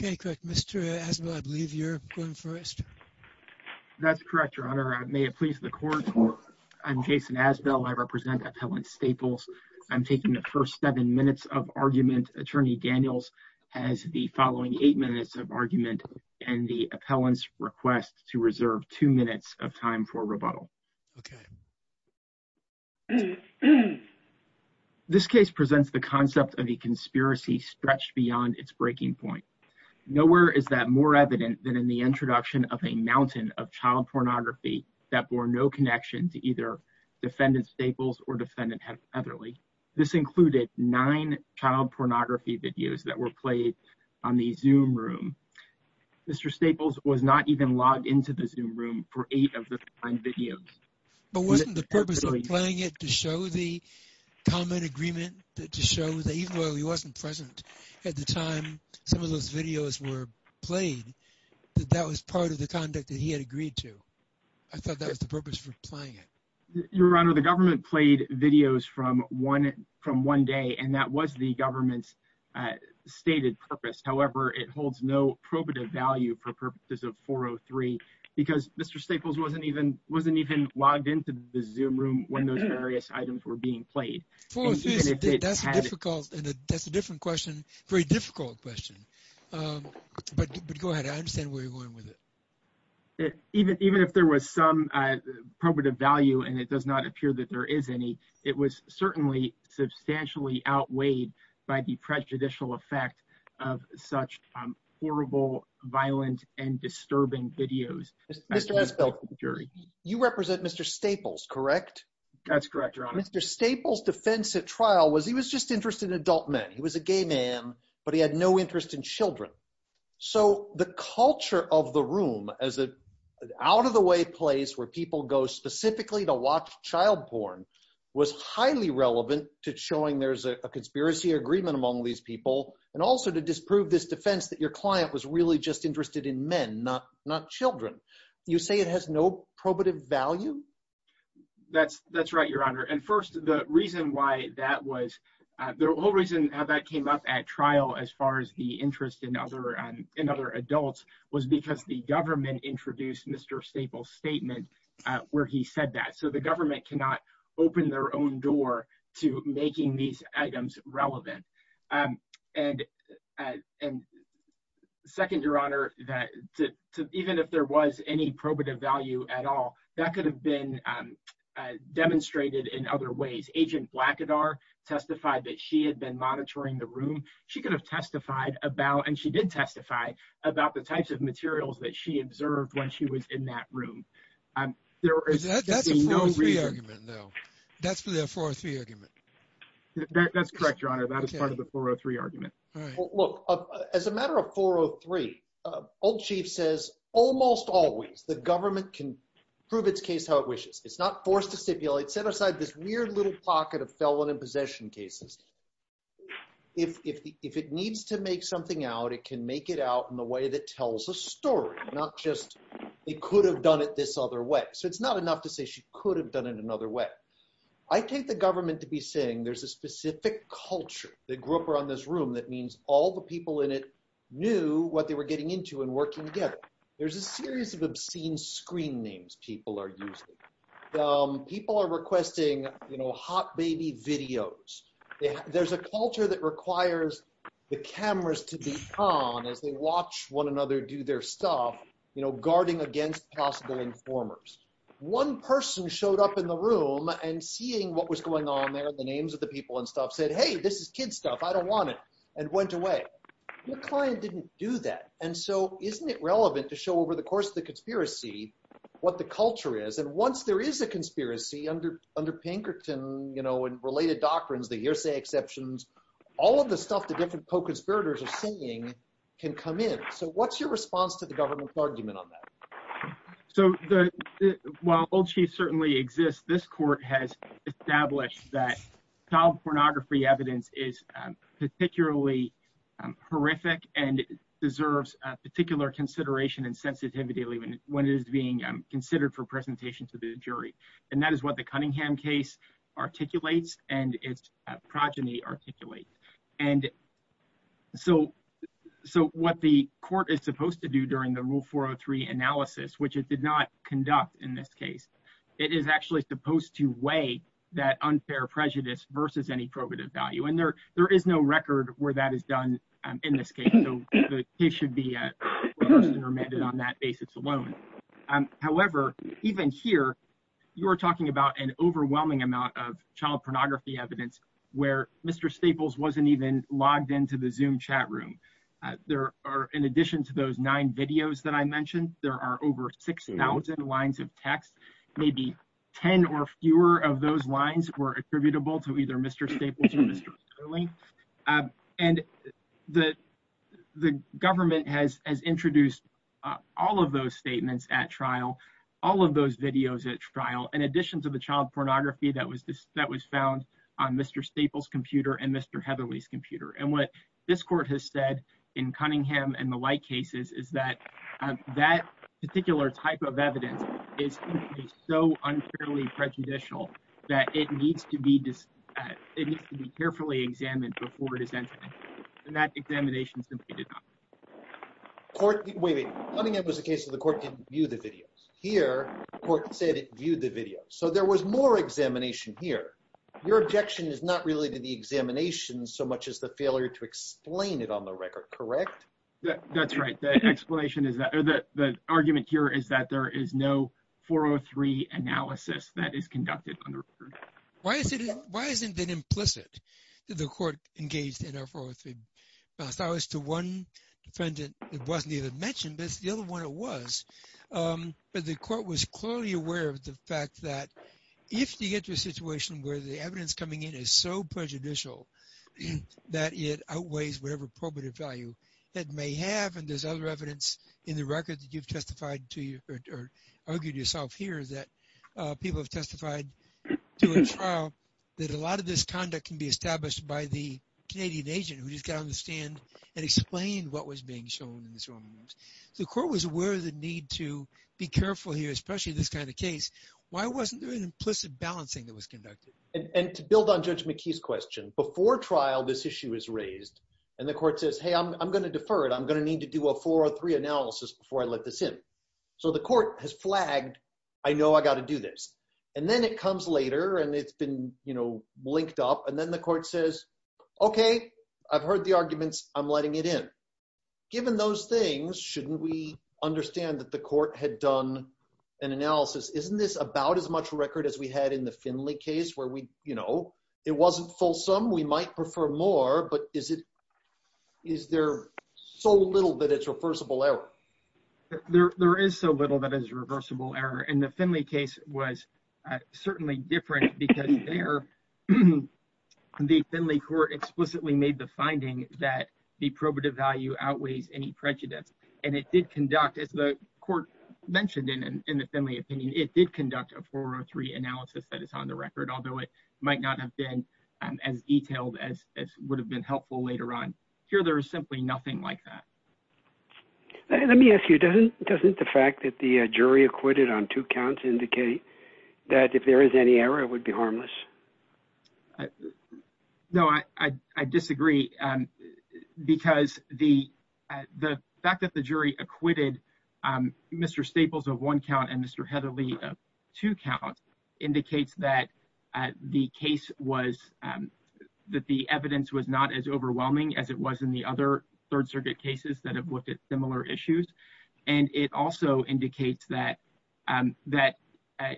Mr. Asbel, I believe you're going first. That's correct, Your Honor. May it please the Court, I'm Jason Asbel. I represent Appellant Staples. I'm taking the first seven minutes of argument. Attorney Daniels has the following eight minutes of argument and the appellant's request to reserve two minutes of time for rebuttal. Okay. This case presents the concept of a conspiracy stretched beyond its breaking point. Nowhere is that more evident than in the introduction of a mountain of child pornography that bore no connection to either defendant Staples or defendant Heatherly. This included nine child pornography videos that were played on the Zoom room. Mr. Staples was not even logged into the Zoom room for eight of the videos. But wasn't the purpose of playing it to show the comment agreement, to show that even though he wasn't present at the time some of those videos were played, that that was part of the conduct that he had agreed to? I thought that was the purpose for playing it. Your Honor, the government played videos from one day and that was the government's stated purpose. However, it holds no probative value for purposes of 403 because Mr. Staples wasn't even wasn't even logged into the Zoom room when those various items were being played. That's a difficult and that's a different question. Very difficult question. But go ahead. I understand where you're going with it. Even if there was some probative value and it does not appear that there is any, it was certainly substantially outweighed by the prejudicial effect of such horrible, violent and disturbing videos. Mr. Espel, you represent Mr. Staples, correct? That's correct, Your Honor. Mr. Staples' defense at trial was he was just interested in adult men. He was a gay man, but he had no interest in children. So the culture of the room as an out-of-the-way place where people go specifically to watch child porn was highly relevant to showing there's a conspiracy agreement among these people and also to disprove this defense that your client was really just interested in men, not children. You say it has no probative value? That's right, Your Honor. And first, the reason why that was, the whole reason how that came up at trial as far as the interest in other adults was because the government introduced Mr. Staples' statement where he said that. So the government cannot open their own door to making these items relevant. And second, Your Honor, that even if there was any probative value at all, that could have been demonstrated in other ways. Agent Blackadar testified that she had been monitoring the room. She could have testified about, and she did testify about the types of materials that she observed when she was in that room. That's a 403 argument, though. That's the 403 argument. That's correct, Your Honor. That is part of the 403 argument. Look, as a matter of 403, Old Chief says almost always the government can prove its case how it wishes. It's not forced to stipulate, set aside this weird little pocket of felon and possession cases. If it needs to make something out, it can make it out in the way that tells a story, not just it could have done it this other way. So it's not enough to say she could have done it another way. I take the government to be saying there's a specific culture that grew up around this room that means all the people in it knew what they were getting into and working together. There's a series of obscene screen names people are using. People are requesting, you know, hot baby videos. There's a culture that requires the cameras to be on as they watch one another do their stuff, you know, guarding against possible informers. One person showed up in the room and seeing what was going on there, the names of the people and stuff, said, hey, this is kid stuff. I don't want it, and went away. Your client didn't do that. And so isn't it relevant to show over the course of the conspiracy what the culture is? And once there is a conspiracy under Pinkerton, you know, and related doctrines, the hearsay exceptions, all of the stuff the different co-conspirators are saying can come in. So what's your response to the government's argument on that? So while Old Chief certainly exists, this court has established that child pornography evidence is particularly horrific and deserves particular consideration and sensitivity when it is being considered for presentation to the jury. And that is what the Cunningham case articulates and its progeny articulate. And so what the court is supposed to do during the Rule 403 analysis, which it did not conduct in this case, it is actually supposed to weigh that unfair prejudice versus any probative value. And there is no record where that is done in this case, so the case should be reversed and remanded on that basis alone. However, even here, you are talking about an overwhelming amount of child pornography evidence where Mr. Staples wasn't even logged into the Zoom chat room. There are, in addition to those nine videos that I mentioned, there are over 6,000 lines of text. Maybe 10 or fewer of those lines were attributable to either Mr. Staples or Mr. Sterling. And the government has introduced all of those statements at trial, all of those videos at trial, in addition to the child pornography that was found on Mr. Staples' computer and Mr. Heatherley's computer. And what this court has said in Cunningham and the like cases is that that particular type of evidence is so unfairly prejudicial that it needs to be carefully examined before it is entered. And that examination simply did not. Wait, wait. Cunningham was a case where the court didn't view the videos. Here, the court said it viewed the videos. So there was more examination here. Your objection is not really to the examination so much as the failure to explain it on the record, correct? That's right. The explanation is that – or the argument here is that there is no 403 analysis that is conducted on the record. Why isn't it implicit that the court engaged in a 403 analysis? To one defendant, it wasn't even mentioned, but it's the other one it was. But the court was clearly aware of the fact that if you get to a situation where the evidence coming in is so prejudicial that it outweighs whatever probative value it may have, and there's other evidence in the record that you've testified to – or argued yourself here that people have testified to a trial, that a lot of this conduct can be established by the Canadian agent who just got on the stand and explained what was being shown in this video. So the court was aware of the need to be careful here, especially in this kind of case. Why wasn't there an implicit balancing that was conducted? And to build on Judge McKee's question, before trial this issue is raised, and the court says, hey, I'm going to defer it. I'm going to need to do a 403 analysis before I let this in. So the court has flagged, I know I've got to do this. And then it comes later, and it's been linked up, and then the court says, okay, I've heard the arguments. I'm letting it in. Given those things, shouldn't we understand that the court had done an analysis? Isn't this about as much record as we had in the Finley case where it wasn't fulsome? We might prefer more, but is there so little that it's reversible error? There is so little that is reversible error, and the Finley case was certainly different because there the Finley court explicitly made the finding that the probative value outweighs any prejudice. As the court mentioned in the Finley opinion, it did conduct a 403 analysis that is on the record, although it might not have been as detailed as would have been helpful later on. Here there is simply nothing like that. Let me ask you, doesn't the fact that the jury acquitted on two counts indicate that if there is any error, it would be harmless? No, I disagree, because the fact that the jury acquitted Mr. Staples of one count and Mr. Heatherly of two counts indicates that the evidence was not as overwhelming as it was in the other Third Circuit cases that have looked at similar issues. It also indicates that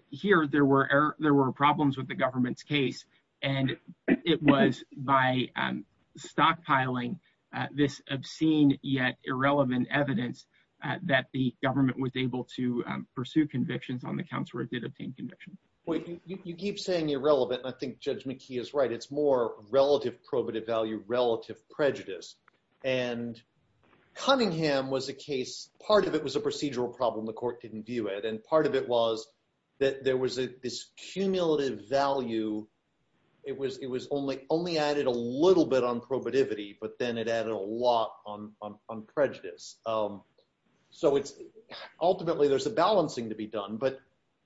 here there were problems with the government's case, and it was by stockpiling this obscene yet irrelevant evidence that the government was able to pursue convictions on the counts where it did obtain conviction. You keep saying irrelevant, and I think Judge McKee is right. It's more relative probative value, relative prejudice. And Cunningham was a case, part of it was a procedural problem the court didn't view it, and part of it was that there was this cumulative value. It was only added a little bit on probativity, but then it added a lot on prejudice. Ultimately, there's a balancing to be done, but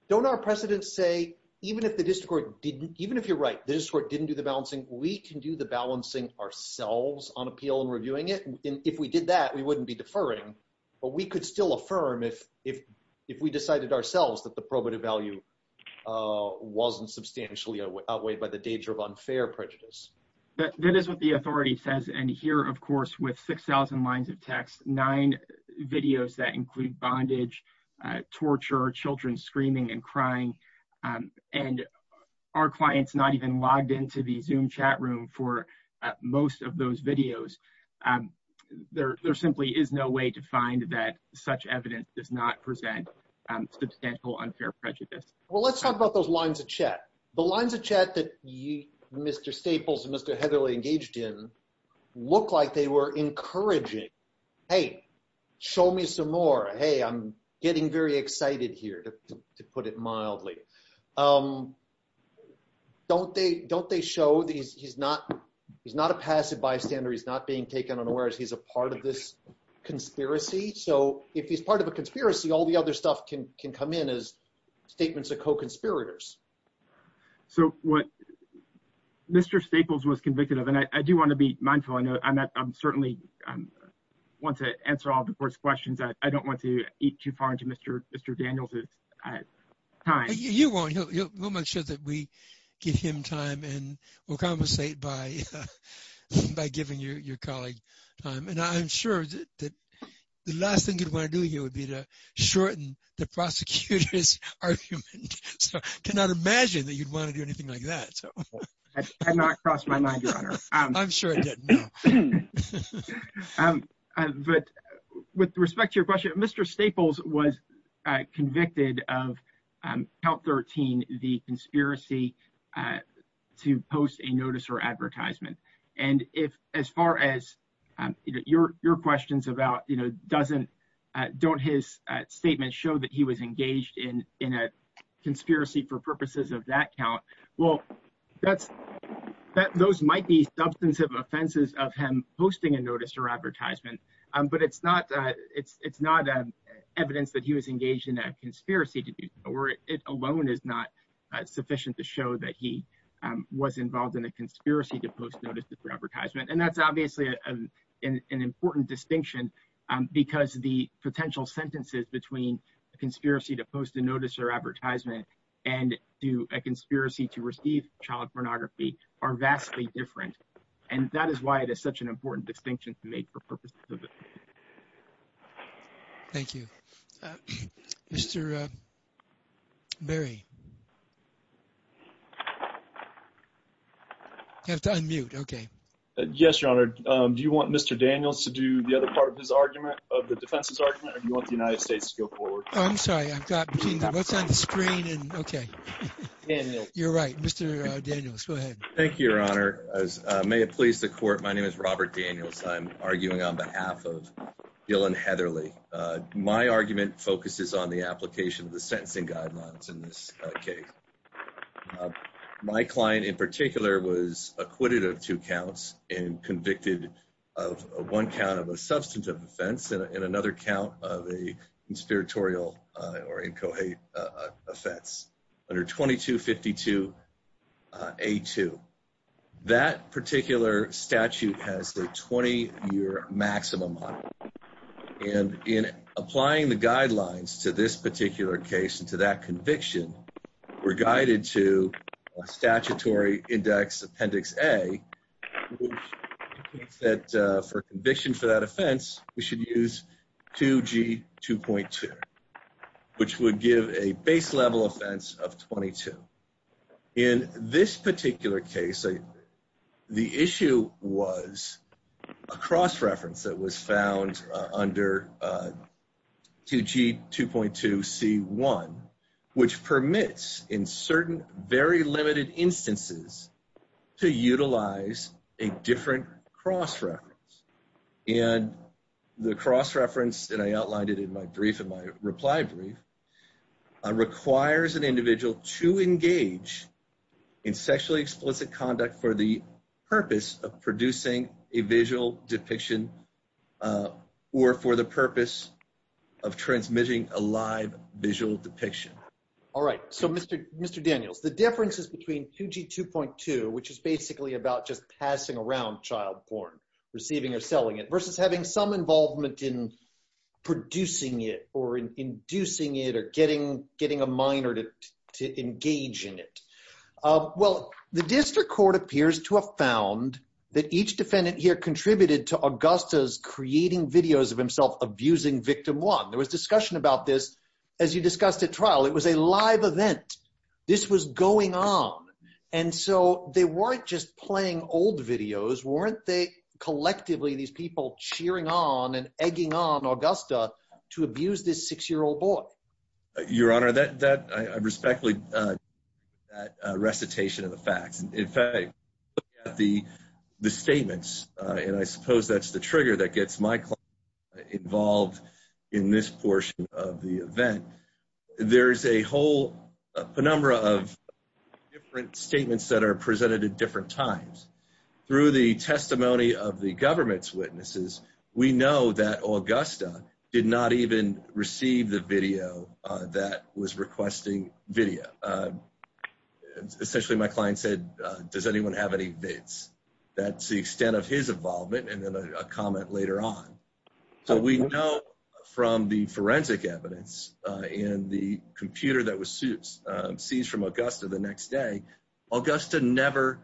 don't our precedents say, even if you're right, the district court didn't do the balancing, we can do the balancing ourselves on appeal and reviewing it? If we did that, we wouldn't be deferring, but we could still affirm if we decided ourselves that the probative value wasn't substantially outweighed by the danger of unfair prejudice. That is what the authority says, and here, of course, with 6,000 lines of text, nine videos that include bondage, torture, children screaming and crying, and our clients not even logged into the Zoom chat room for most of those videos, there simply is no way to find that such evidence does not present substantial unfair prejudice. Well, let's talk about those lines of chat. The lines of chat that Mr. Staples and Mr. Heatherly engaged in look like they were encouraging, hey, show me some more, hey, I'm getting very excited here, to put it mildly. Don't they show he's not a passive bystander, he's not being taken unawares, he's a part of this conspiracy? So if he's part of a conspiracy, all the other stuff can come in as statements of co-conspirators. So what Mr. Staples was convicted of, and I do want to be mindful, I certainly want to answer all the court's questions, I don't want to eat too far into Mr. Daniels' time. You won't. We'll make sure that we give him time and we'll compensate by giving your colleague time. And I'm sure that the last thing you'd want to do here would be to shorten the prosecutor's argument. So I cannot imagine that you'd want to do anything like that. That did not cross my mind, Your Honor. I'm sure it didn't, no. But with respect to your question, Mr. Staples was convicted of Count 13, the conspiracy to post a notice or advertisement. And as far as your questions about don't his statements show that he was engaged in a conspiracy for purposes of that count, well, those might be substantive offenses of him posting a notice or advertisement. But it's not evidence that he was engaged in a conspiracy to do so, or it alone is not sufficient to show that he was involved in a conspiracy to post a notice or advertisement. And that's obviously an important distinction because the potential sentences between a conspiracy to post a notice or advertisement and to a conspiracy to receive child pornography are vastly different. And that is why it is such an important distinction to make for purposes of it. Thank you. Mr. Berry. You have to unmute. Okay. Yes, Your Honor. Do you want Mr. Daniels to do the other part of his argument of the defense's argument or do you want the United States to go forward? I'm sorry, I've got between the votes on the screen and okay. You're right, Mr. Daniels, go ahead. Thank you, Your Honor. As may it please the court, my name is Robert Daniels. I'm arguing on behalf of Dylan Heatherly. My argument focuses on the application of the sentencing guidelines in this case. My client in particular was acquitted of two counts and convicted of one count of a substantive offense and another count of a conspiratorial or incoherent offense under 2252A2. That particular statute has a 20-year maximum. And in applying the guidelines to this particular case and to that conviction, we're guided to a statutory index, Appendix A, that for conviction for that offense, we should use 2G2.2, which would give a base level offense of 22. In this particular case, the issue was a cross-reference that was found under 2G2.2C1, which permits in certain very limited instances to utilize a different cross-reference. And the cross-reference, and I outlined it in my brief, in my reply brief, requires an individual to engage in sexually explicit conduct for the purpose of producing a visual depiction or for the purpose of transmitting a live visual depiction. All right, so Mr. Daniels, the differences between 2G2.2, which is basically about just passing around child porn, receiving or selling it, versus having some involvement in producing it or inducing it or getting a minor to engage in it. Well, the district court appears to have found that each defendant here contributed to Augusta's creating videos of himself abusing victim one. There was discussion about this, as you discussed at trial. It was a live event. This was going on. And so they weren't just playing old videos. Weren't they collectively, these people cheering on and egging on Augusta to abuse this six-year-old boy? Your Honor, I respectfully disagree with that recitation of the facts. In fact, looking at the statements, and I suppose that's the trigger that gets my client involved in this portion of the event, there's a whole penumbra of different statements that are presented at different times. Through the testimony of the government's witnesses, we know that Augusta did not even receive the video that was requesting video. Essentially, my client said, does anyone have any vids? That's the extent of his involvement, and then a comment later on. So we know from the forensic evidence and the computer that was seized from Augusta the next day, Augusta never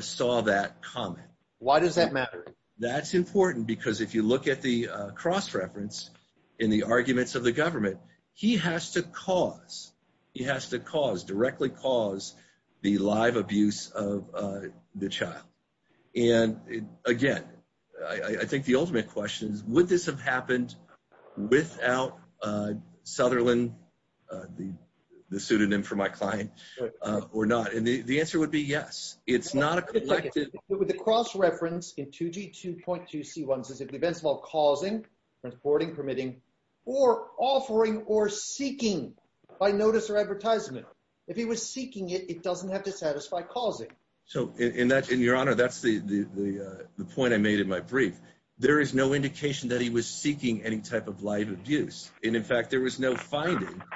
saw that comment. Why does that matter? That's important because if you look at the cross-reference in the arguments of the government, he has to cause, he has to cause, directly cause the live abuse of the child. And again, I think the ultimate question is, would this have happened without Sutherland, the pseudonym for my client, or not? And the answer would be yes. The cross-reference in 2G2.2C1 says if the offence of causing, reporting, permitting, or offering or seeking by notice or advertisement, if he was seeking it, it doesn't have to satisfy causing. So in your honor, that's the point I made in my brief. There is no indication that he was seeking any type of live abuse. And in fact, there was no finding by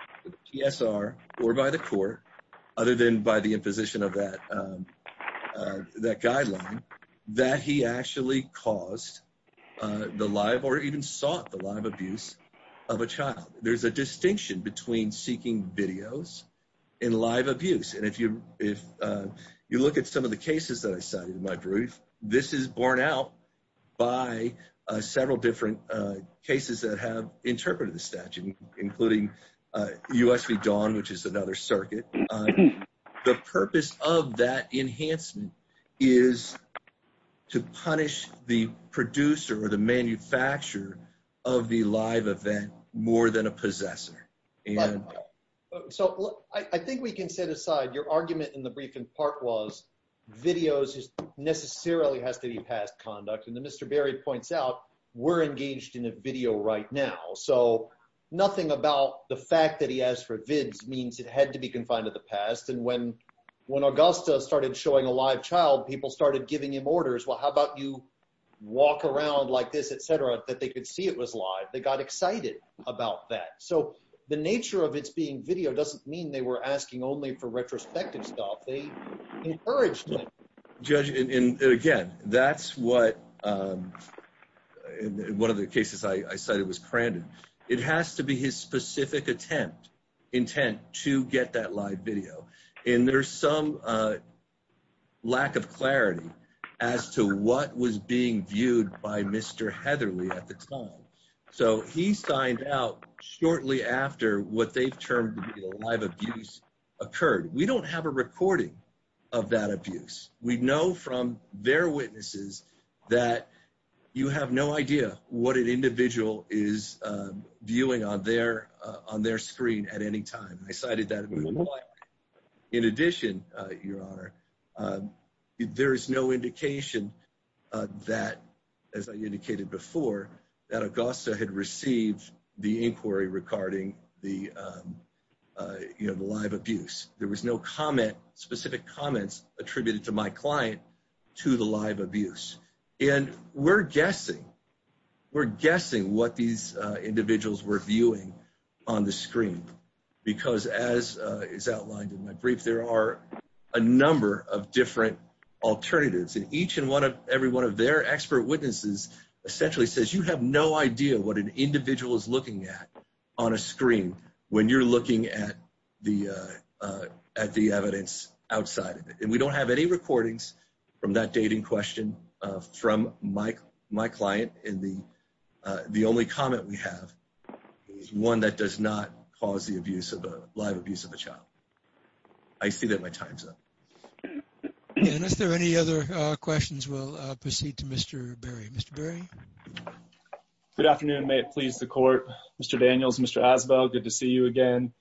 the PSR or by the court, other than by the imposition of that guideline, that he actually caused the live or even sought the live abuse of a child. There's a distinction between seeking videos and live abuse. And if you look at some of the cases that I cited in my brief, this is borne out by several different cases that have interpreted the statute, including US v. DAWN, which is another circuit. The purpose of that enhancement is to punish the producer or the manufacturer of the live event more than a possessor. So I think we can set aside your argument in the brief in part was videos necessarily has to be past conduct. And then Mr. Berry points out we're engaged in a video right now. So nothing about the fact that he asked for vids means it had to be confined to the past. And when Augusta started showing a live child, people started giving him orders. Well, how about you walk around like this, et cetera, that they could see it was live. They got excited about that. So the nature of its being video doesn't mean they were asking only for retrospective stuff. They encouraged it. Judge, and again, that's what one of the cases I cited was Crandon. It has to be his specific attempt, intent to get that live video. And there's some lack of clarity as to what was being viewed by Mr. Heatherly at the time. So he signed out shortly after what they've termed live abuse occurred. We don't have a recording of that abuse. We know from their witnesses that you have no idea what an individual is viewing on their screen at any time. I cited that. In addition, Your Honor, there is no indication that, as I indicated before, that Augusta had received the inquiry regarding the live abuse. There was no comment, specific comments attributed to my client to the live abuse. And we're guessing. We're guessing what these individuals were viewing on the screen. Because, as is outlined in my brief, there are a number of different alternatives. And each and every one of their expert witnesses essentially says, you have no idea what an individual is looking at on a screen when you're looking at the evidence outside of it. And we don't have any recordings from that date in question from my client. And the only comment we have is one that does not cause the abuse of a live abuse of a child. I see that my time's up. And if there are any other questions, we'll proceed to Mr. Berry. Mr. Berry? Good afternoon. May it please the Court. Mr. Daniels, Mr. Asbel, good to see you again.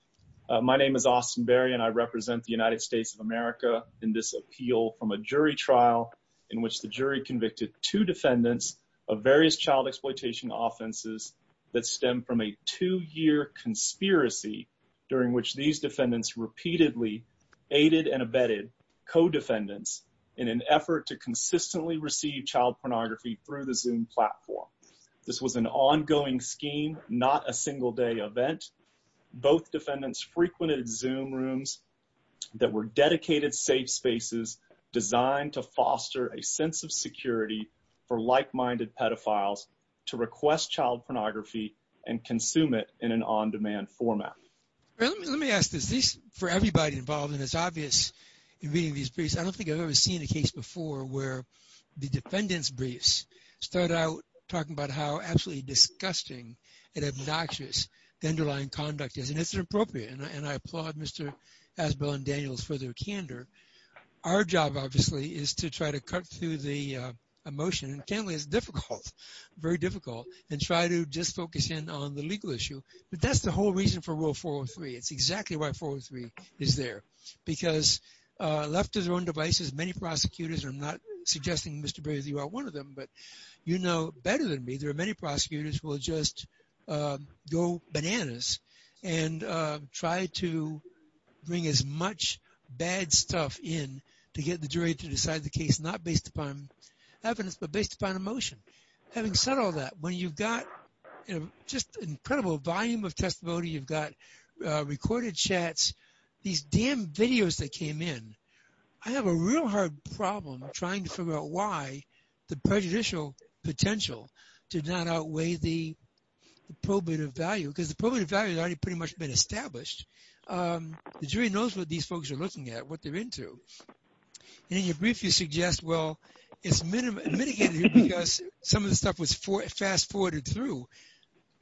My name is Austin Berry, and I represent the United States of America in this appeal from a jury trial in which the jury convicted two defendants of various child exploitation offenses that stem from a two-year conspiracy during which these defendants repeatedly aided and abetted co-defendants in an effort to consistently receive child pornography through the Zoom platform. This was an ongoing scheme, not a single-day event. Both defendants frequented Zoom rooms that were dedicated safe spaces designed to foster a sense of security for like-minded pedophiles to request child pornography and consume it in an on-demand format. Let me ask this. For everybody involved, and it's obvious in reading these briefs, I don't think I've ever seen a case before where the defendant's briefs start out talking about how absolutely disgusting and obnoxious the underlying conduct is, and it's inappropriate. And I applaud Mr. Asbel and Daniels for their candor. Our job, obviously, is to try to cut through the emotion, and it's difficult, very difficult, and try to just focus in on the legal issue. But that's the whole reason for Rule 403. It's exactly why 403 is there. Because left to their own devices, many prosecutors, and I'm not suggesting, Mr. Berry, that you are one of them, but you know better than me there are many prosecutors who will just go bananas and try to bring as much bad stuff in to get the jury to decide the case not based upon evidence, but based upon emotion. Having said all that, when you've got just an incredible volume of testimony, you've got recorded chats, these damn videos that came in, I have a real hard problem trying to figure out why the prejudicial potential did not outweigh the probative value. Because the probative value has already pretty much been established. The jury knows what these folks are looking at, what they're into. And in your brief, you suggest, well, it's mitigated because some of the stuff was fast-forwarded through.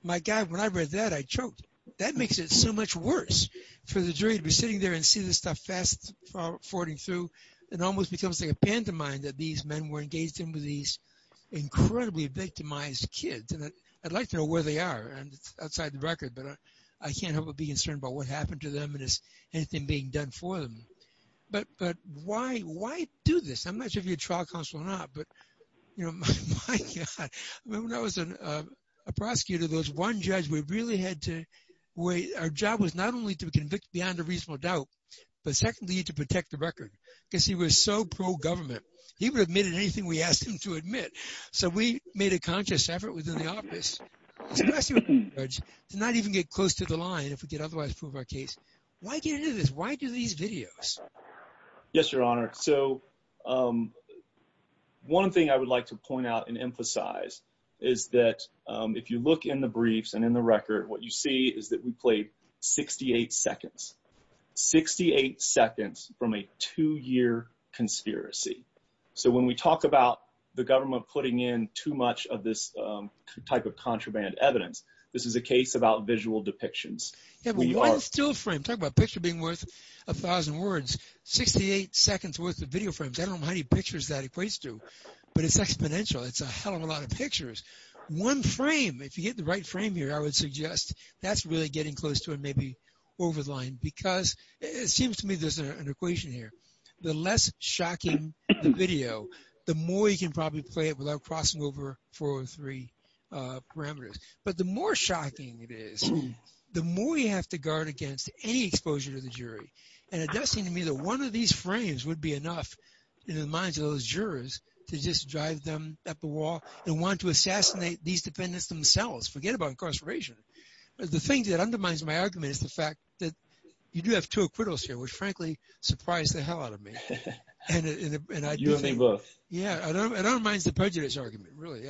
My God, when I read that, I choked. That makes it so much worse for the jury to be sitting there and see this stuff fast-forwarding through. It almost becomes like a pantomime that these men were engaged in with these incredibly victimized kids. And I'd like to know where they are. And it's outside the record, but I can't help but be concerned about what happened to them and is anything being done for them. But why do this? I'm not sure if you're a trial counsel or not, but, you know, my God. When I was a prosecutor, there was one judge where our job was not only to convict beyond a reasonable doubt, but secondly, to protect the record, because he was so pro-government. He would have admitted anything we asked him to admit. So we made a conscious effort within the office to not even get close to the line if we could otherwise prove our case. Why get into this? Why do these videos? Yes, Your Honor. So one thing I would like to point out and emphasize is that if you look in the briefs and in the record, what you see is that we played 68 seconds, 68 seconds from a two-year conspiracy. So when we talk about the government putting in too much of this type of contraband evidence, this is a case about visual depictions. Yeah, but one still frame. Talk about a picture being worth a thousand words. Sixty-eight seconds worth of video frames. I don't know how many pictures that equates to, but it's exponential. It's a hell of a lot of pictures. One frame. If you get the right frame here, I would suggest that's really getting close to and maybe over the line, because it seems to me there's an equation here. The less shocking the video, the more you can probably play it without crossing over 403 parameters. But the more shocking it is, the more you have to guard against any exposure to the jury. And it does seem to me that one of these frames would be enough in the minds of those jurors to just drive them up a wall and want to assassinate these defendants themselves. Forget about incarceration. The thing that undermines my argument is the fact that you do have two acquittals here, which frankly surprised the hell out of me. You think both. Yeah, it undermines the prejudice argument, really.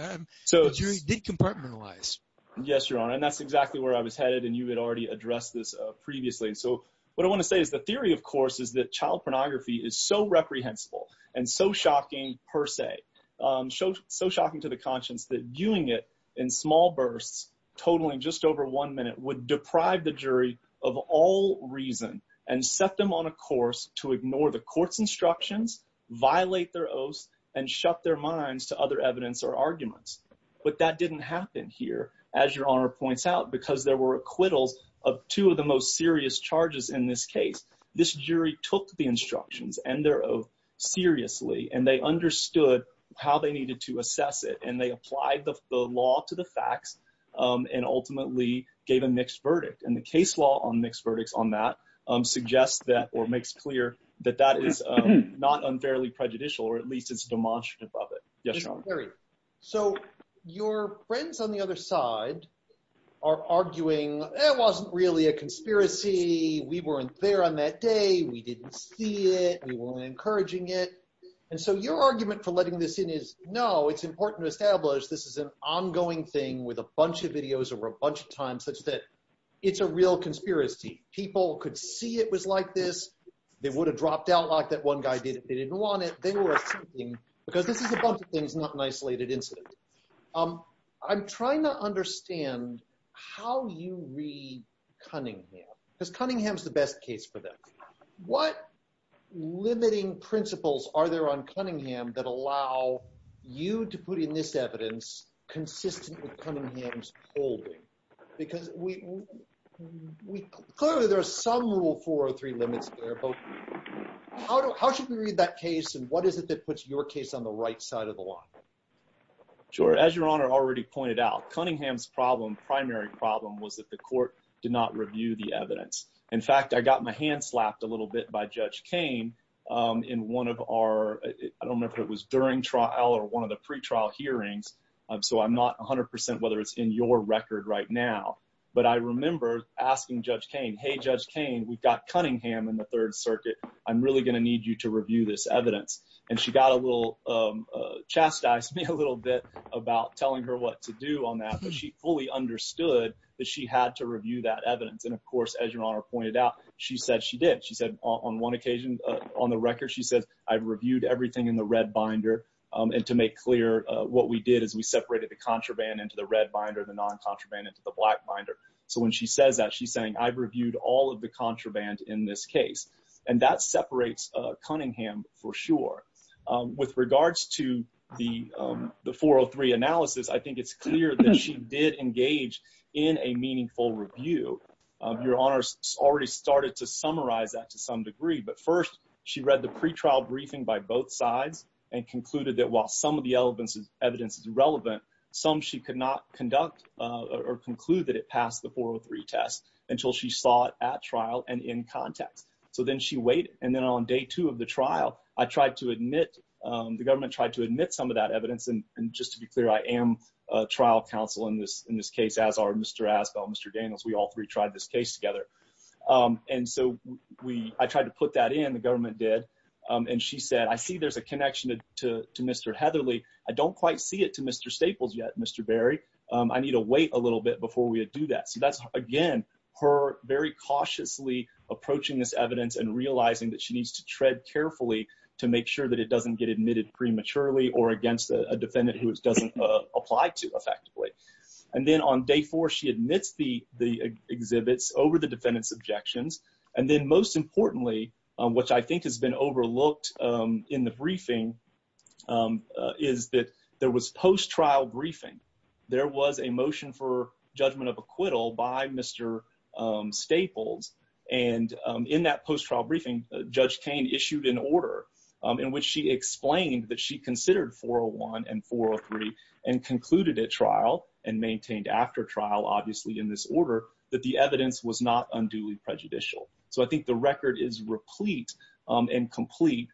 The jury did compartmentalize. Yes, Your Honor, and that's exactly where I was headed, and you had already addressed this previously. So what I want to say is the theory, of course, is that child pornography is so reprehensible and so shocking per se, so shocking to the conscience that viewing it in small bursts, totaling just over one minute, would deprive the jury of all reason and set them on a course to ignore the court's instructions, violate their oaths, and shut their minds to other evidence or arguments. But that didn't happen here, as Your Honor points out, because there were acquittals of two of the most serious charges in this case. This jury took the instructions and their oath seriously, and they understood how they needed to assess it, and they applied the law to the facts and ultimately gave a mixed verdict. And the case law on mixed verdicts on that suggests that or makes clear that that is not unfairly prejudicial, or at least it's demonstrative of it. Yes, Your Honor. So your friends on the other side are arguing, it wasn't really a conspiracy. We weren't there on that day. We didn't see it. We weren't encouraging it. And so your argument for letting this in is, no, it's important to establish this is an ongoing thing with a bunch of videos or a bunch of times such that it's a real conspiracy. People could see it was like this. They would have dropped out like that one guy did if they didn't want it. They were assuming, because this is a bunch of things, not an isolated incident. I'm trying to understand how you read Cunningham, because Cunningham's the best case for them. What limiting principles are there on Cunningham that allow you to put in this evidence consistent with Cunningham's holding? Because clearly there are some rule 403 limits there. How should we read that case, and what is it that puts your case on the right side of the law? Sure. As Your Honor already pointed out, Cunningham's primary problem was that the court did not review the evidence. In fact, I got my hand slapped a little bit by Judge Kaine in one of our, I don't know if it was during trial or one of the pretrial hearings. So I'm not 100% whether it's in your record right now. But I remember asking Judge Kaine, hey, Judge Kaine, we've got Cunningham in the Third Circuit. I'm really going to need you to review this evidence. And she got a little chastised me a little bit about telling her what to do on that. And of course, as Your Honor pointed out, she said she did. She said on one occasion on the record, she said, I've reviewed everything in the red binder. And to make clear, what we did is we separated the contraband into the red binder, the non-contraband into the black binder. So when she says that, she's saying I've reviewed all of the contraband in this case. And that separates Cunningham for sure. With regards to the 403 analysis, I think it's clear that she did engage in a meaningful review. Your Honor already started to summarize that to some degree. But first, she read the pretrial briefing by both sides and concluded that while some of the evidence is relevant, some she could not conduct or conclude that it passed the 403 test until she saw it at trial and in context. So then she waited. And then on day two of the trial, I tried to admit, the government tried to admit some of that evidence. And just to be clear, I am a trial counsel in this case, as are Mr. Asbell, Mr. Daniels. We all three tried this case together. And so I tried to put that in. The government did. And she said, I see there's a connection to Mr. Heatherly. I don't quite see it to Mr. Staples yet, Mr. Berry. I need to wait a little bit before we do that. So that's, again, her very cautiously approaching this evidence and realizing that she needs to tread carefully to make sure that it doesn't get admitted prematurely or against a defendant who it doesn't apply to effectively. And then on day four, she admits the exhibits over the defendant's objections. And then most importantly, which I think has been overlooked in the briefing, is that there was post-trial briefing. There was a motion for judgment of acquittal by Mr. Staples. And in that post-trial briefing, Judge Kane issued an order in which she explained that she considered 401 and 403 and concluded at trial and maintained after trial, obviously, in this order, that the evidence was not unduly prejudicial. So I think the record is replete and complete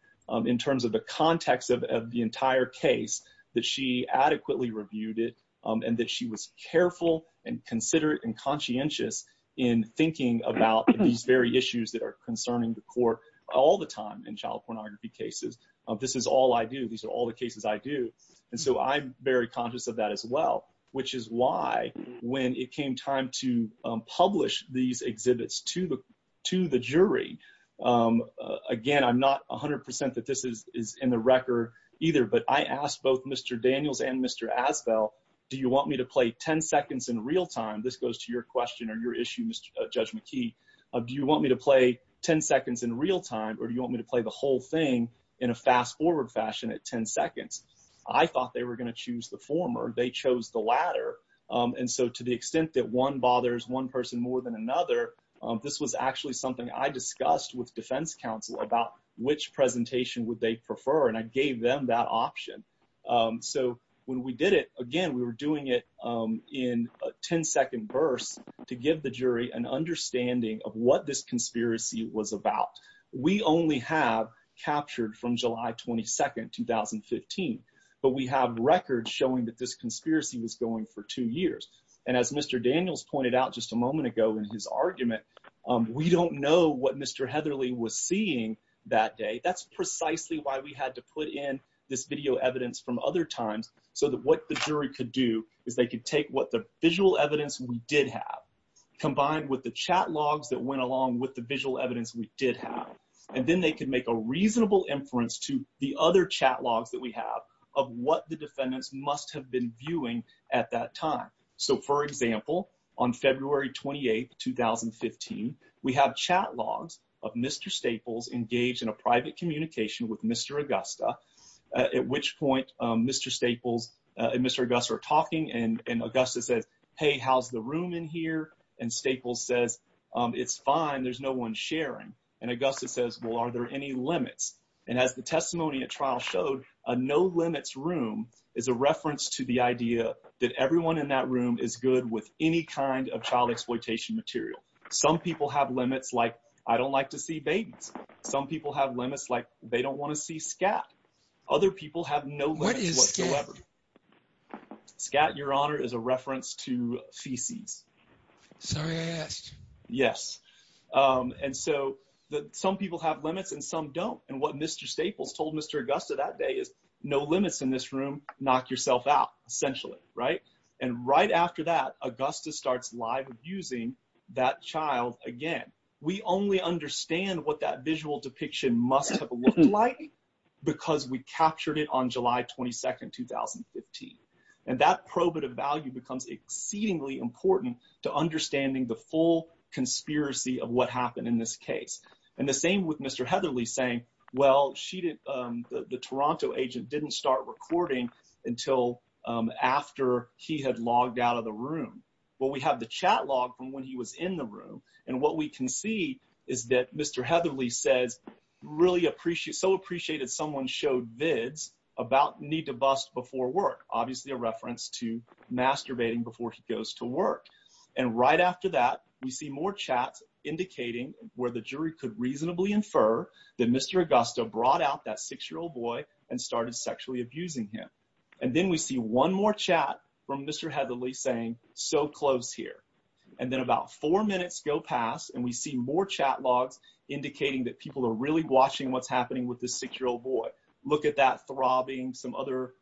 in terms of the context of the entire case that she adequately reviewed it and that she was careful and considerate and conscientious in thinking about these very issues that are concerning the court all the time in child pornography cases. This is all I do. These are all the cases I do. And so I'm very conscious of that as well, which is why when it came time to publish these exhibits to the jury, again, I'm not 100% that this is in the record either, but I asked both Mr. Daniels and Mr. Asbell, do you want me to play 10 seconds in real time? This goes to your question or your issue, Judge McKee. Do you want me to play 10 seconds in real time or do you want me to play the whole thing in a fast-forward fashion at 10 seconds? I thought they were going to choose the former. They chose the latter. And so to the extent that one bothers one person more than another, this was actually something I discussed with defense counsel about which presentation would they prefer, and I gave them that option. So when we did it, again, we were doing it in 10-second bursts to give the jury an understanding of what this conspiracy was about. We only have captured from July 22, 2015, but we have records showing that this conspiracy was going for two years. And as Mr. Daniels pointed out just a moment ago in his argument, we don't know what Mr. Heatherly was seeing that day. That's precisely why we had to put in this video evidence from other times so that what the jury could do is they could take what the visual evidence we did have, combined with the chat logs that went along with the visual evidence we did have, and then they could make a reasonable inference to the other chat logs that we have of what the defendants must have been viewing at that time. So, for example, on February 28, 2015, we have chat logs of Mr. Staples engaged in a private communication with Mr. Augusta, at which point Mr. Staples and Mr. Augusta are talking, and Augusta says, hey, how's the room in here? And Staples says, it's fine. There's no one sharing. And Augusta says, well, are there any limits? And as the testimony at trial showed, a no limits room is a reference to the idea that everyone in that room is good with any kind of child exploitation material. Some people have limits like I don't like to see babies. Some people have limits like they don't want to see scat. Other people have no limits whatsoever. What is scat? Scat, Your Honor, is a reference to feces. Sorry I asked. Yes. And so some people have limits and some don't. And what Mr. Staples told Mr. Augusta that day is no limits in this room, knock yourself out, essentially, right? And right after that, Augusta starts live abusing that child again. We only understand what that visual depiction must have looked like because we captured it on July 22, 2015. And that probative value becomes exceedingly important to understanding the full conspiracy of what happened in this case. And the same with Mr. Heatherly saying, well, the Toronto agent didn't start recording until after he had logged out of the room. Well, we have the chat log from when he was in the room. And what we can see is that Mr. Heatherly says, really appreciate, so appreciated someone showed vids about need to bust before work. Obviously a reference to masturbating before he goes to work. And right after that, we see more chats indicating where the jury could reasonably infer that Mr. Augusta brought out that six-year-old boy and started sexually abusing him. And then we see one more chat from Mr. Heatherly saying, so close here. And then about four minutes go past and we see more chat logs indicating that people are really watching what's happening with this six-year-old boy. Look at that throbbing, some other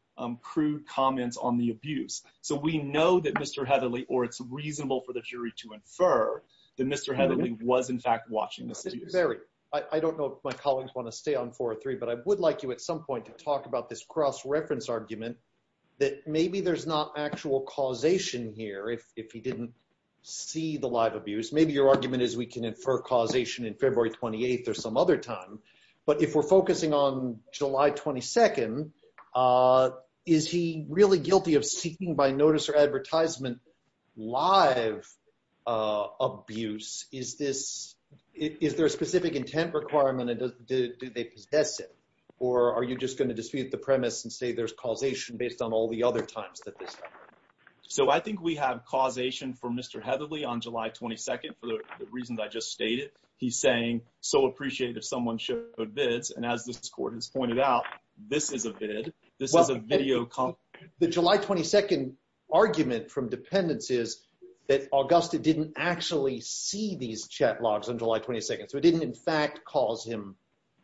crude comments on the abuse. So we know that Mr. Heatherly, or it's reasonable for the jury to infer that Mr. Heatherly was in fact watching this abuse. I don't know if my colleagues want to stay on four or three, but I would like you at some point to talk about this cross-reference argument that maybe there's not actual causation here if he didn't see the live abuse. Maybe your argument is we can infer causation in February 28th or some other time. But if we're focusing on July 22nd, is he really guilty of seeking by notice or advertisement live abuse? Is there a specific intent requirement and do they possess it? Or are you just going to dispute the premise and say there's causation based on all the other times that this happened? So I think we have causation for Mr. Heatherly on July 22nd for the reasons I just stated. He's saying, so appreciated if someone showed vids. And as this court has pointed out, this is a vid. The July 22nd argument from dependents is that Augusta didn't actually see these chat logs on July 22nd. So it didn't in fact cause him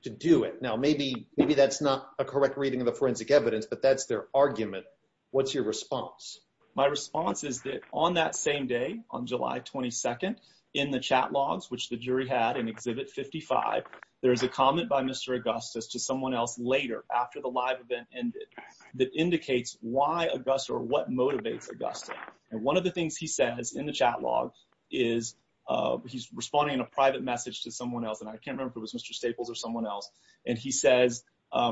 to do it. Now, maybe that's not a correct reading of the forensic evidence, but that's their argument. What's your response? My response is that on that same day, on July 22nd, in the chat logs, which the jury had in Exhibit 55, there is a comment by Mr. Augustus to someone else later after the live event ended that indicates why Augusta or what motivates Augusta. And one of the things he says in the chat log is he's responding in a private message to someone else. And I can't remember if it was Mr. Staples or someone else. And he says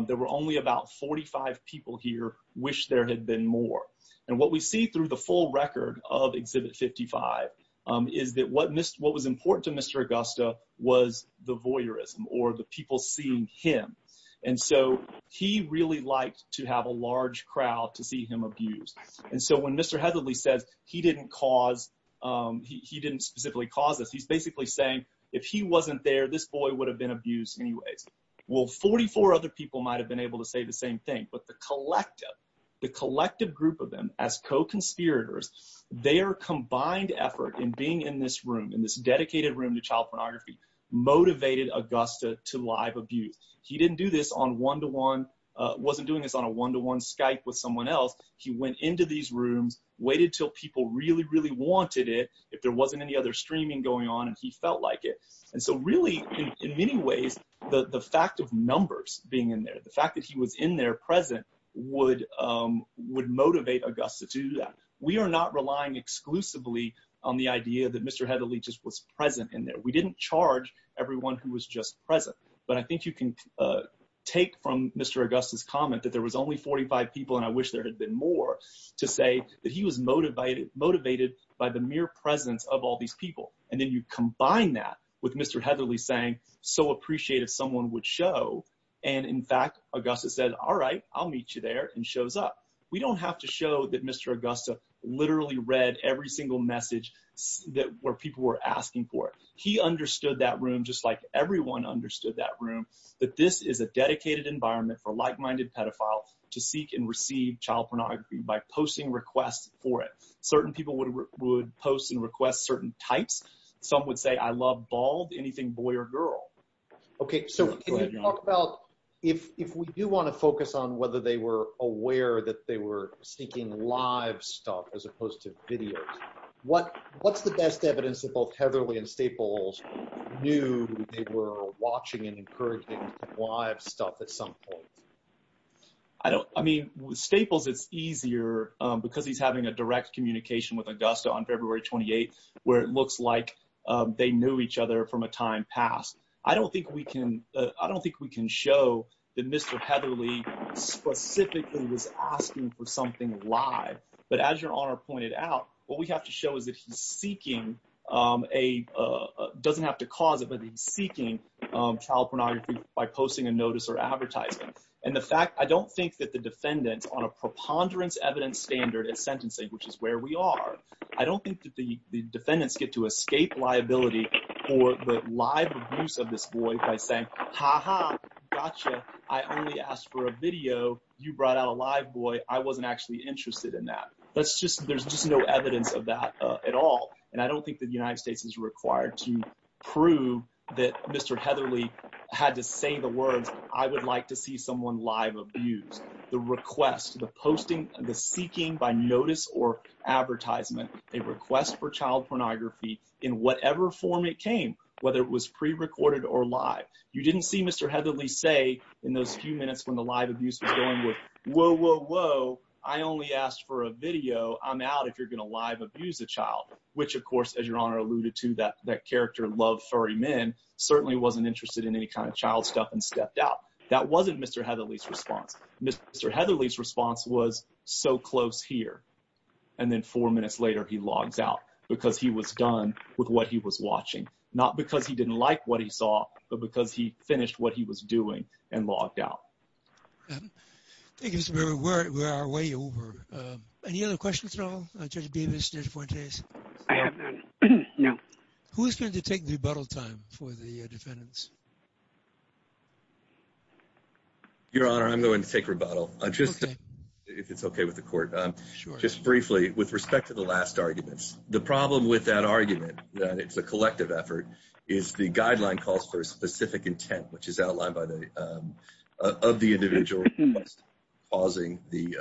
there were only about 45 people here wish there had been more. And what we see through the full record of Exhibit 55 is that what was important to Mr. Augusta was the voyeurism or the people seeing him. And so he really liked to have a large crowd to see him abused. And so when Mr. Hetherly says he didn't specifically cause this, he's basically saying if he wasn't there, this boy would have been abused anyways. Well, 44 other people might have been able to say the same thing. But the collective, the collective group of them as co-conspirators, their combined effort in being in this room, in this dedicated room to child pornography, motivated Augusta to live abuse. He didn't do this on one-to-one, wasn't doing this on a one-to-one Skype with someone else. He went into these rooms, waited till people really, really wanted it, if there wasn't any other streaming going on, and he felt like it. And so really, in many ways, the fact of numbers being in there, the fact that he was in there present would motivate Augusta to do that. We are not relying exclusively on the idea that Mr. Hetherly just was present in there. We didn't charge everyone who was just present. But I think you can take from Mr. Augusta's comment that there was only 45 people, and I wish there had been more, to say that he was motivated by the mere presence of all these people. And then you combine that with Mr. Hetherly saying, so appreciate if someone would show. And in fact, Augusta said, all right, I'll meet you there, and shows up. We don't have to show that Mr. Augusta literally read every single message where people were asking for it. He understood that room just like everyone understood that room, that this is a dedicated environment for like-minded pedophile to seek and receive child pornography by posting requests for it. Certain people would post and request certain types. Some would say, I love bald, anything boy or girl. Okay, so can you talk about if we do want to focus on whether they were aware that they were seeking live stuff as opposed to videos, what's the best evidence that both Hetherly and Staples knew they were watching and encouraging live stuff at some point? I mean, with Staples, it's easier because he's having a direct communication with Augusta on February 28th, where it looks like they knew each other from a time past. I don't think we can show that Mr. Hetherly specifically was asking for something live. But as your Honor pointed out, what we have to show is that he's seeking, doesn't have to cause it, but he's seeking child pornography by posting a notice or advertising. And the fact, I don't think that the defendants on a preponderance evidence standard at sentencing, which is where we are, I don't think that the defendants get to escape liability for the live abuse of this boy by saying, ha ha, gotcha, I only asked for a video. You brought out a live boy. I wasn't actually interested in that. There's just no evidence of that at all. And I don't think the United States is required to prove that Mr. Hetherly had to say the words, I would like to see someone live abused. The request, the posting, the seeking by notice or advertisement, a request for child pornography in whatever form it came, whether it was prerecorded or live. You didn't see Mr. Hetherly say in those few minutes when the live abuse was going with, whoa, whoa, whoa, I only asked for a video. I'm out if you're going to live abuse a child, which of course, as your Honor alluded to that, that character loved furry men, certainly wasn't interested in any kind of child stuff and stepped out. That wasn't Mr. Hetherly's response. Mr. Hetherly's response was so close here. And then four minutes later, he logs out because he was done with what he was watching, not because he didn't like what he saw, but because he finished what he was doing and logged out. Thank you. We're we're way over. Any other questions at all? Judge Davis did for days. Who is going to take the bottle time for the defendants? Your Honor, I'm going to take rebuttal. If it's OK with the court, just briefly, with respect to the last arguments, the problem with that argument that it's a collective effort is the guideline calls for a specific intent, which is outlined by the of the individual causing the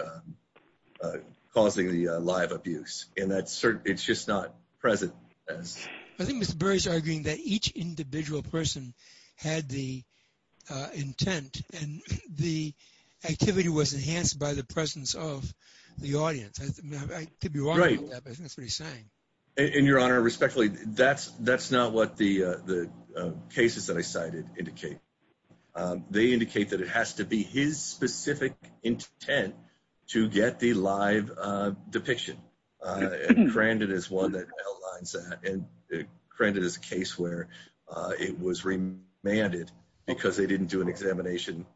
causing the live abuse. And that's it's just not present. I think Mr. Burry's arguing that each individual person had the intent and the activity was enhanced by the presence of the audience. I could be right. That's what he's saying. In your honor, respectfully, that's that's not what the the cases that I cited indicate. They indicate that it has to be his specific intent to get the live depiction. And granted is one that outlines that. And granted is a case where it was remanded because they didn't do an examination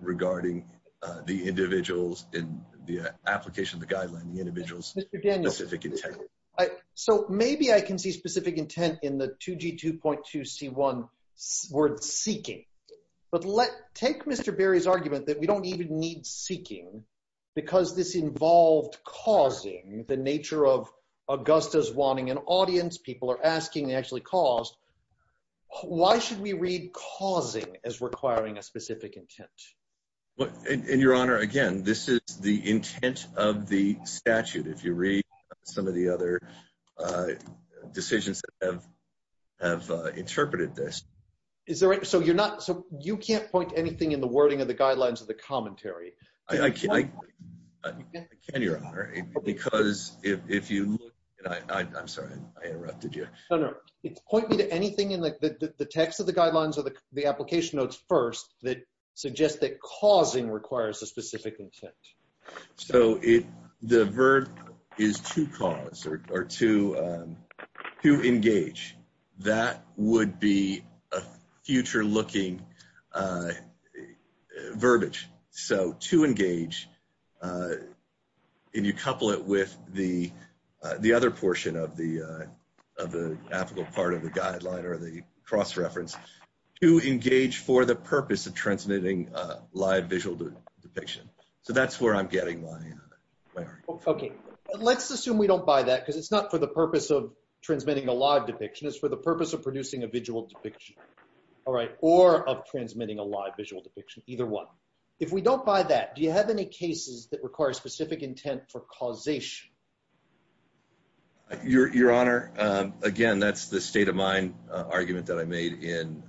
regarding the individuals in the application, the guideline, the individuals. So maybe I can see specific intent in the 2G 2.2 C1 word seeking. But let's take Mr. Berry's argument that we don't even need seeking because this involved causing the nature of Augusta's wanting an audience. People are asking actually caused. Why should we read causing as requiring a specific intent? In your honor, again, this is the intent of the statute. If you read some of the other decisions that have have interpreted this. Is there. So you're not. So you can't point anything in the wording of the guidelines of the commentary. I can't. Because if you I'm sorry, I interrupted you. No, no, it's pointing to anything in the text of the guidelines or the application notes first that suggest that causing requires a specific intent. So if the verb is to cause or to to engage, that would be a future looking verbiage. So to engage in, you couple it with the the other portion of the of the ethical part of the guideline or the cross reference to engage for the purpose of transmitting live visual depiction. So that's where I'm getting my. Let's assume we don't buy that because it's not for the purpose of transmitting a live depiction is for the purpose of producing a visual depiction. All right. Or of transmitting a live visual depiction. Either one. If we don't buy that, do you have any cases that require specific intent for causation? Your Honor, again, that's the state of mind argument that I made in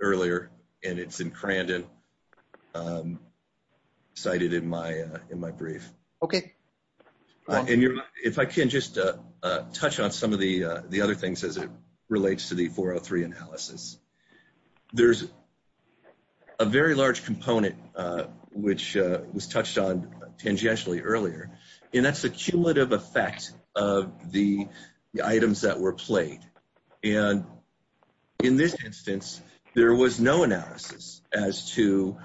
earlier. And it's in Crandon cited in my in my brief. Okay. And if I can just touch on some of the the other things as it relates to the 403 analysis, there's a very large component which was touched on tangentially earlier. And that's the cumulative effect of the items that were played. And in this instance, there was no analysis as to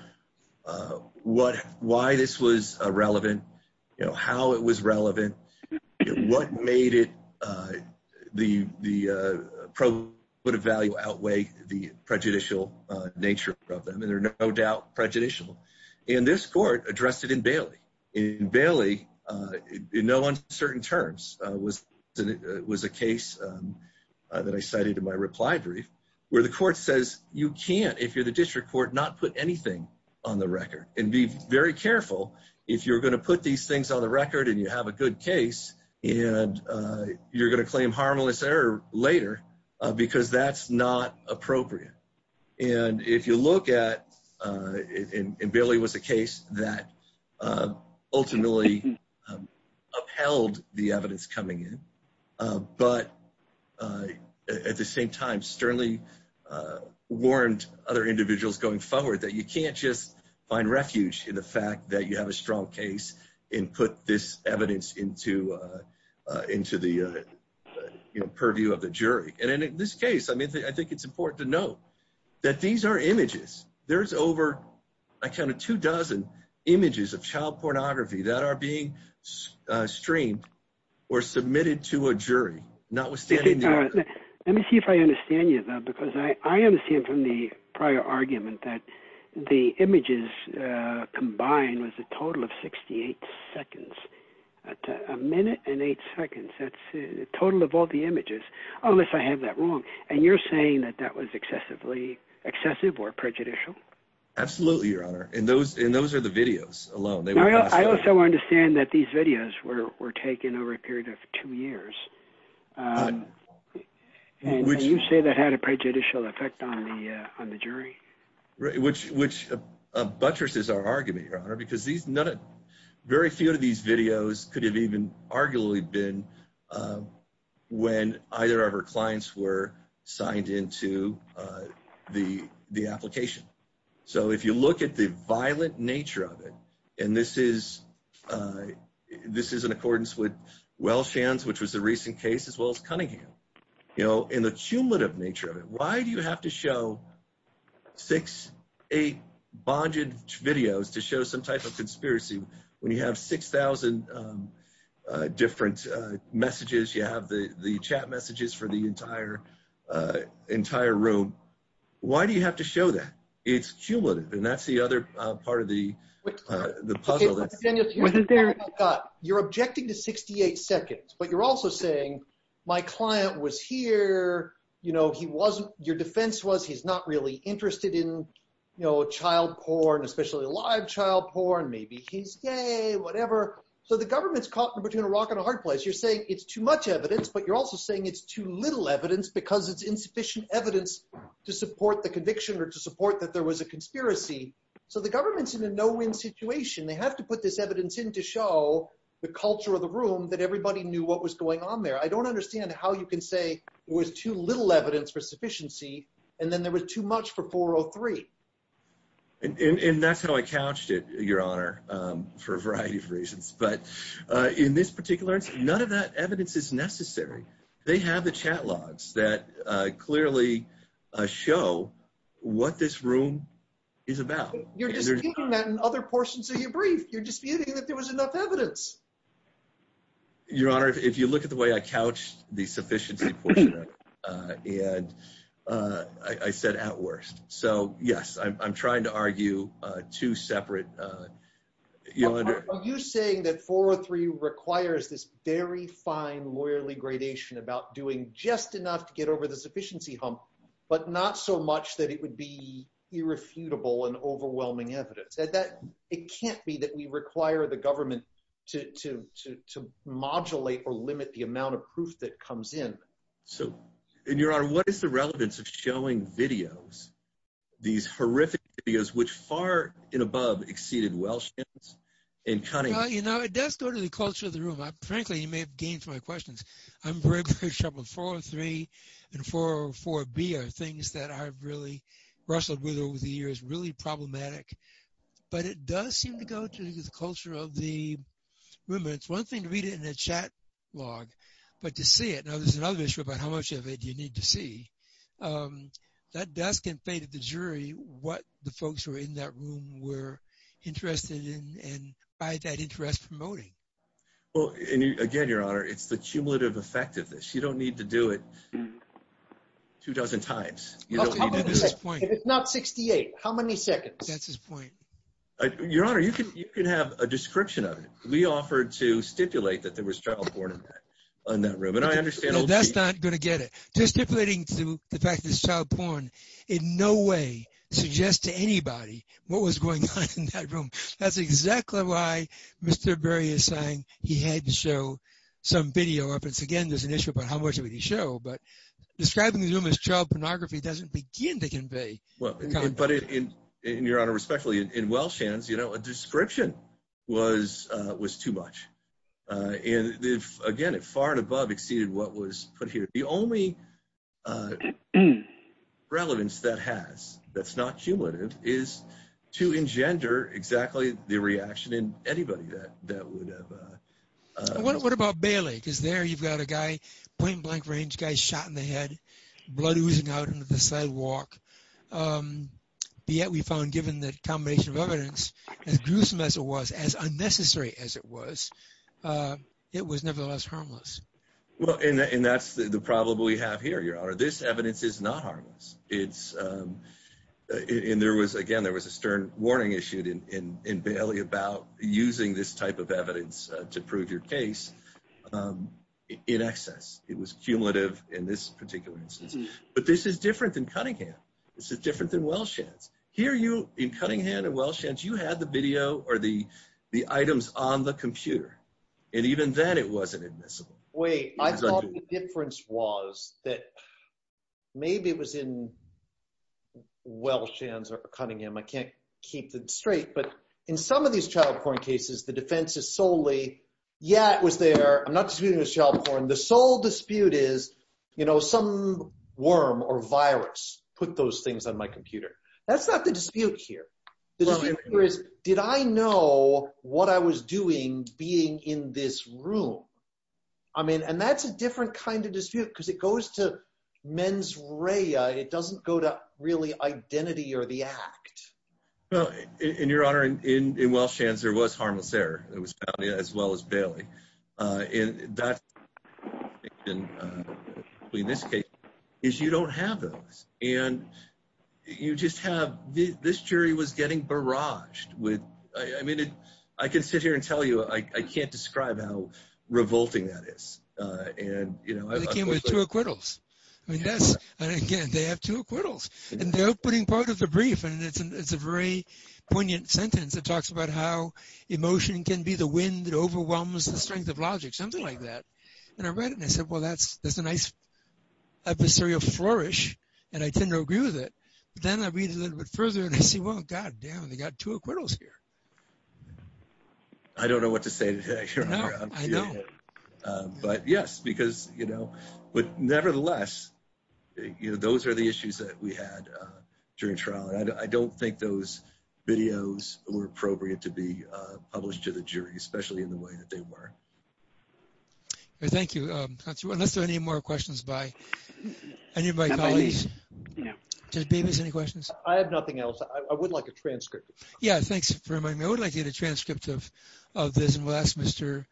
what why this was relevant, how it was relevant. What made it the the probe would evaluate outweigh the prejudicial nature of them. And they're no doubt prejudicial. And this court addressed it in Bailey in Bailey. No one certain terms was that it was a case that I cited in my reply brief where the court says you can't, if you're the district court, not put anything on the record and be very careful. If you're going to put these things on the record and you have a good case and you're going to claim harmless error later because that's not appropriate. And if you look at it in Bailey was a case that ultimately upheld the evidence coming in. But at the same time, Sterling warned other individuals going forward that you can't just find refuge in the fact that you have a strong case and put this evidence into into the purview of the jury. And in this case, I mean, I think it's important to note that these are images. There's over a kind of two dozen images of child pornography that are being streamed or submitted to a jury, notwithstanding. Let me see if I understand you, though, because I understand from the prior argument that the images combined was a total of 68 seconds, a minute and eight seconds. That's a total of all the images unless I have that wrong. And you're saying that that was excessively excessive or prejudicial. Absolutely. Your Honor. And those and those are the videos alone. I also understand that these videos were taken over a period of two years. You say that had a prejudicial effect on the on the jury. Which which buttresses our argument, Your Honor, because these not a very few of these videos could have even arguably been when either of our clients were signed into the the application. So if you look at the violent nature of it and this is this is in accordance with Welsh hands, which was a recent case as well as Cunningham, you know, in the cumulative nature of it. Why do you have to show six, eight bonded videos to show some type of conspiracy when you have six thousand different messages? You have the chat messages for the entire, entire room. Why do you have to show that it's cumulative? And that's the other part of the puzzle. You're objecting to 68 seconds, but you're also saying my client was here. You know, he wasn't your defense was he's not really interested in, you know, child porn, especially live child porn. Maybe he's gay, whatever. So the government's caught in between a rock and a hard place. You're saying it's too much evidence, but you're also saying it's too little evidence because it's insufficient evidence to support the conviction or to support that there was a conspiracy. So the government's in a no win situation. They have to put this evidence in to show the culture of the room that everybody knew what was going on there. I don't understand how you can say it was too little evidence for sufficiency and then there was too much for 403. And that's how I couched it, Your Honor, for a variety of reasons. But in this particular instance, none of that evidence is necessary. They have the chat logs that clearly show what this room is about. You're just keeping that in other portions of your brief. You're disputing that there was enough evidence. Your Honor, if you look at the way I couched the sufficiency and I said at worst. So, yes, I'm trying to argue two separate. Are you saying that 403 requires this very fine lawyerly gradation about doing just enough to get over the sufficiency hump, but not so much that it would be irrefutable and overwhelming evidence that it can't be that we require the government to modulate or limit the amount of proof that comes in? So, and Your Honor, what is the relevance of showing videos, these horrific videos, which far and above exceeded Welsh and Cunningham? You know, it does go to the culture of the room. Frankly, you may have gained from my questions. I'm very, very troubled. 403 and 404B are things that I've really wrestled with over the years, really problematic. But it does seem to go to the culture of the room. It's one thing to read it in a chat log, but to see it. Now, there's another issue about how much of it you need to see. That does convey to the jury what the folks who are in that room were interested in and by that interest promoting. Well, again, Your Honor, it's the cumulative effect of this. You don't need to do it two dozen times. It's not 68. How many seconds? That's his point. Your Honor, you can have a description of it. We offered to stipulate that there was child porn in that room, and I understand. That's not going to get it. Just stipulating to the fact that it's child porn in no way suggests to anybody what was going on in that room. That's exactly why Mr. Berry is saying he had to show some video of it. Again, there's an issue about how much of it he showed, but describing the room as child pornography doesn't begin to convey. Your Honor, respectfully, in Welsh hands, a description was too much. Again, it far and above exceeded what was put here. The only relevance that has that's not cumulative is to engender exactly the reaction in anybody that would have. What about Bailey? Because there you've got a guy, point-blank range, guy shot in the head, blood oozing out into the sidewalk. Yet we found, given the combination of evidence, as gruesome as it was, as unnecessary as it was, it was nevertheless harmless. Well, and that's the problem we have here, Your Honor. This evidence is not harmless. Again, there was a stern warning issued in Bailey about using this type of evidence to prove your case in excess. It was cumulative in this particular instance, but this is different than Cunningham. This is different than Welsh hands. Here you, in Cunningham and Welsh hands, you had the video or the items on the computer, and even then it wasn't admissible. Wait, I thought the difference was that maybe it was in Welsh hands or Cunningham. I can't keep it straight, but in some of these child porn cases, the defense is solely, yeah, it was there. I'm not disputing it was child porn. The sole dispute is, you know, some worm or virus put those things on my computer. That's not the dispute here. The dispute here is, did I know what I was doing being in this room? I mean, and that's a different kind of dispute because it goes to mens rea. It doesn't go to really identity or the act. Well, and Your Honor, in Welsh hands, there was harmless error. It was found as well as Bailey. And that's the distinction between this case is you don't have those. And you just have, this jury was getting barraged with, I mean, I can sit here and tell you, I can't describe how revolting that is. They came with two acquittals. And again, they have two acquittals. And they're putting part of the brief, and it's a very poignant sentence. It talks about how emotion can be the wind that overwhelms the strength of logic, something like that. And I read it, and I said, well, that's a nice episterial flourish, and I tend to agree with it. But then I read it a little bit further, and I say, well, God damn, they got two acquittals here. I don't know what to say to that, Your Honor. I know. But yes, because, you know, but nevertheless, you know, those are the issues that we had during trial. And I don't think those videos were appropriate to be published to the jury, especially in the way that they were. Thank you. Unless there are any more questions by any of my colleagues. Judge Babies, any questions? I have nothing else. I would like a transcript. Yeah, thanks for reminding me. I would like to get a transcript of this. And we'll ask Mr.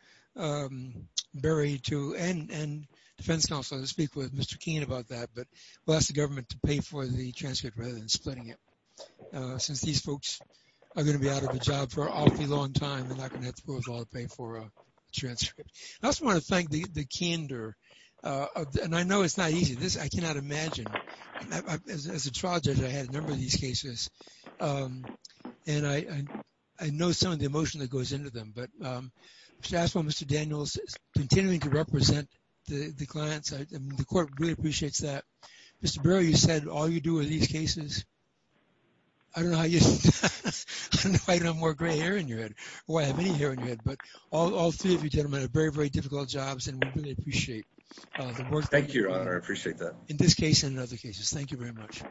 Berry and defense counsel to speak with Mr. Keene about that. But we'll ask the government to pay for the transcript rather than splitting it. Since these folks are going to be out of a job for an awfully long time, they're not going to have to pay for a transcript. I also want to thank the candor. And I know it's not easy. I cannot imagine. As a trial judge, I had a number of these cases. And I know some of the emotion that goes into them. But I should ask for Mr. Daniels continuing to represent the clients. The court really appreciates that. Mr. Berry, you said all you do are these cases. I don't know how you don't have more gray hair in your head or have any hair in your head. But all three of you gentlemen have very, very difficult jobs. And we really appreciate the work. Thank you, Your Honor. I appreciate that. In this case and in other cases. Thank you very much.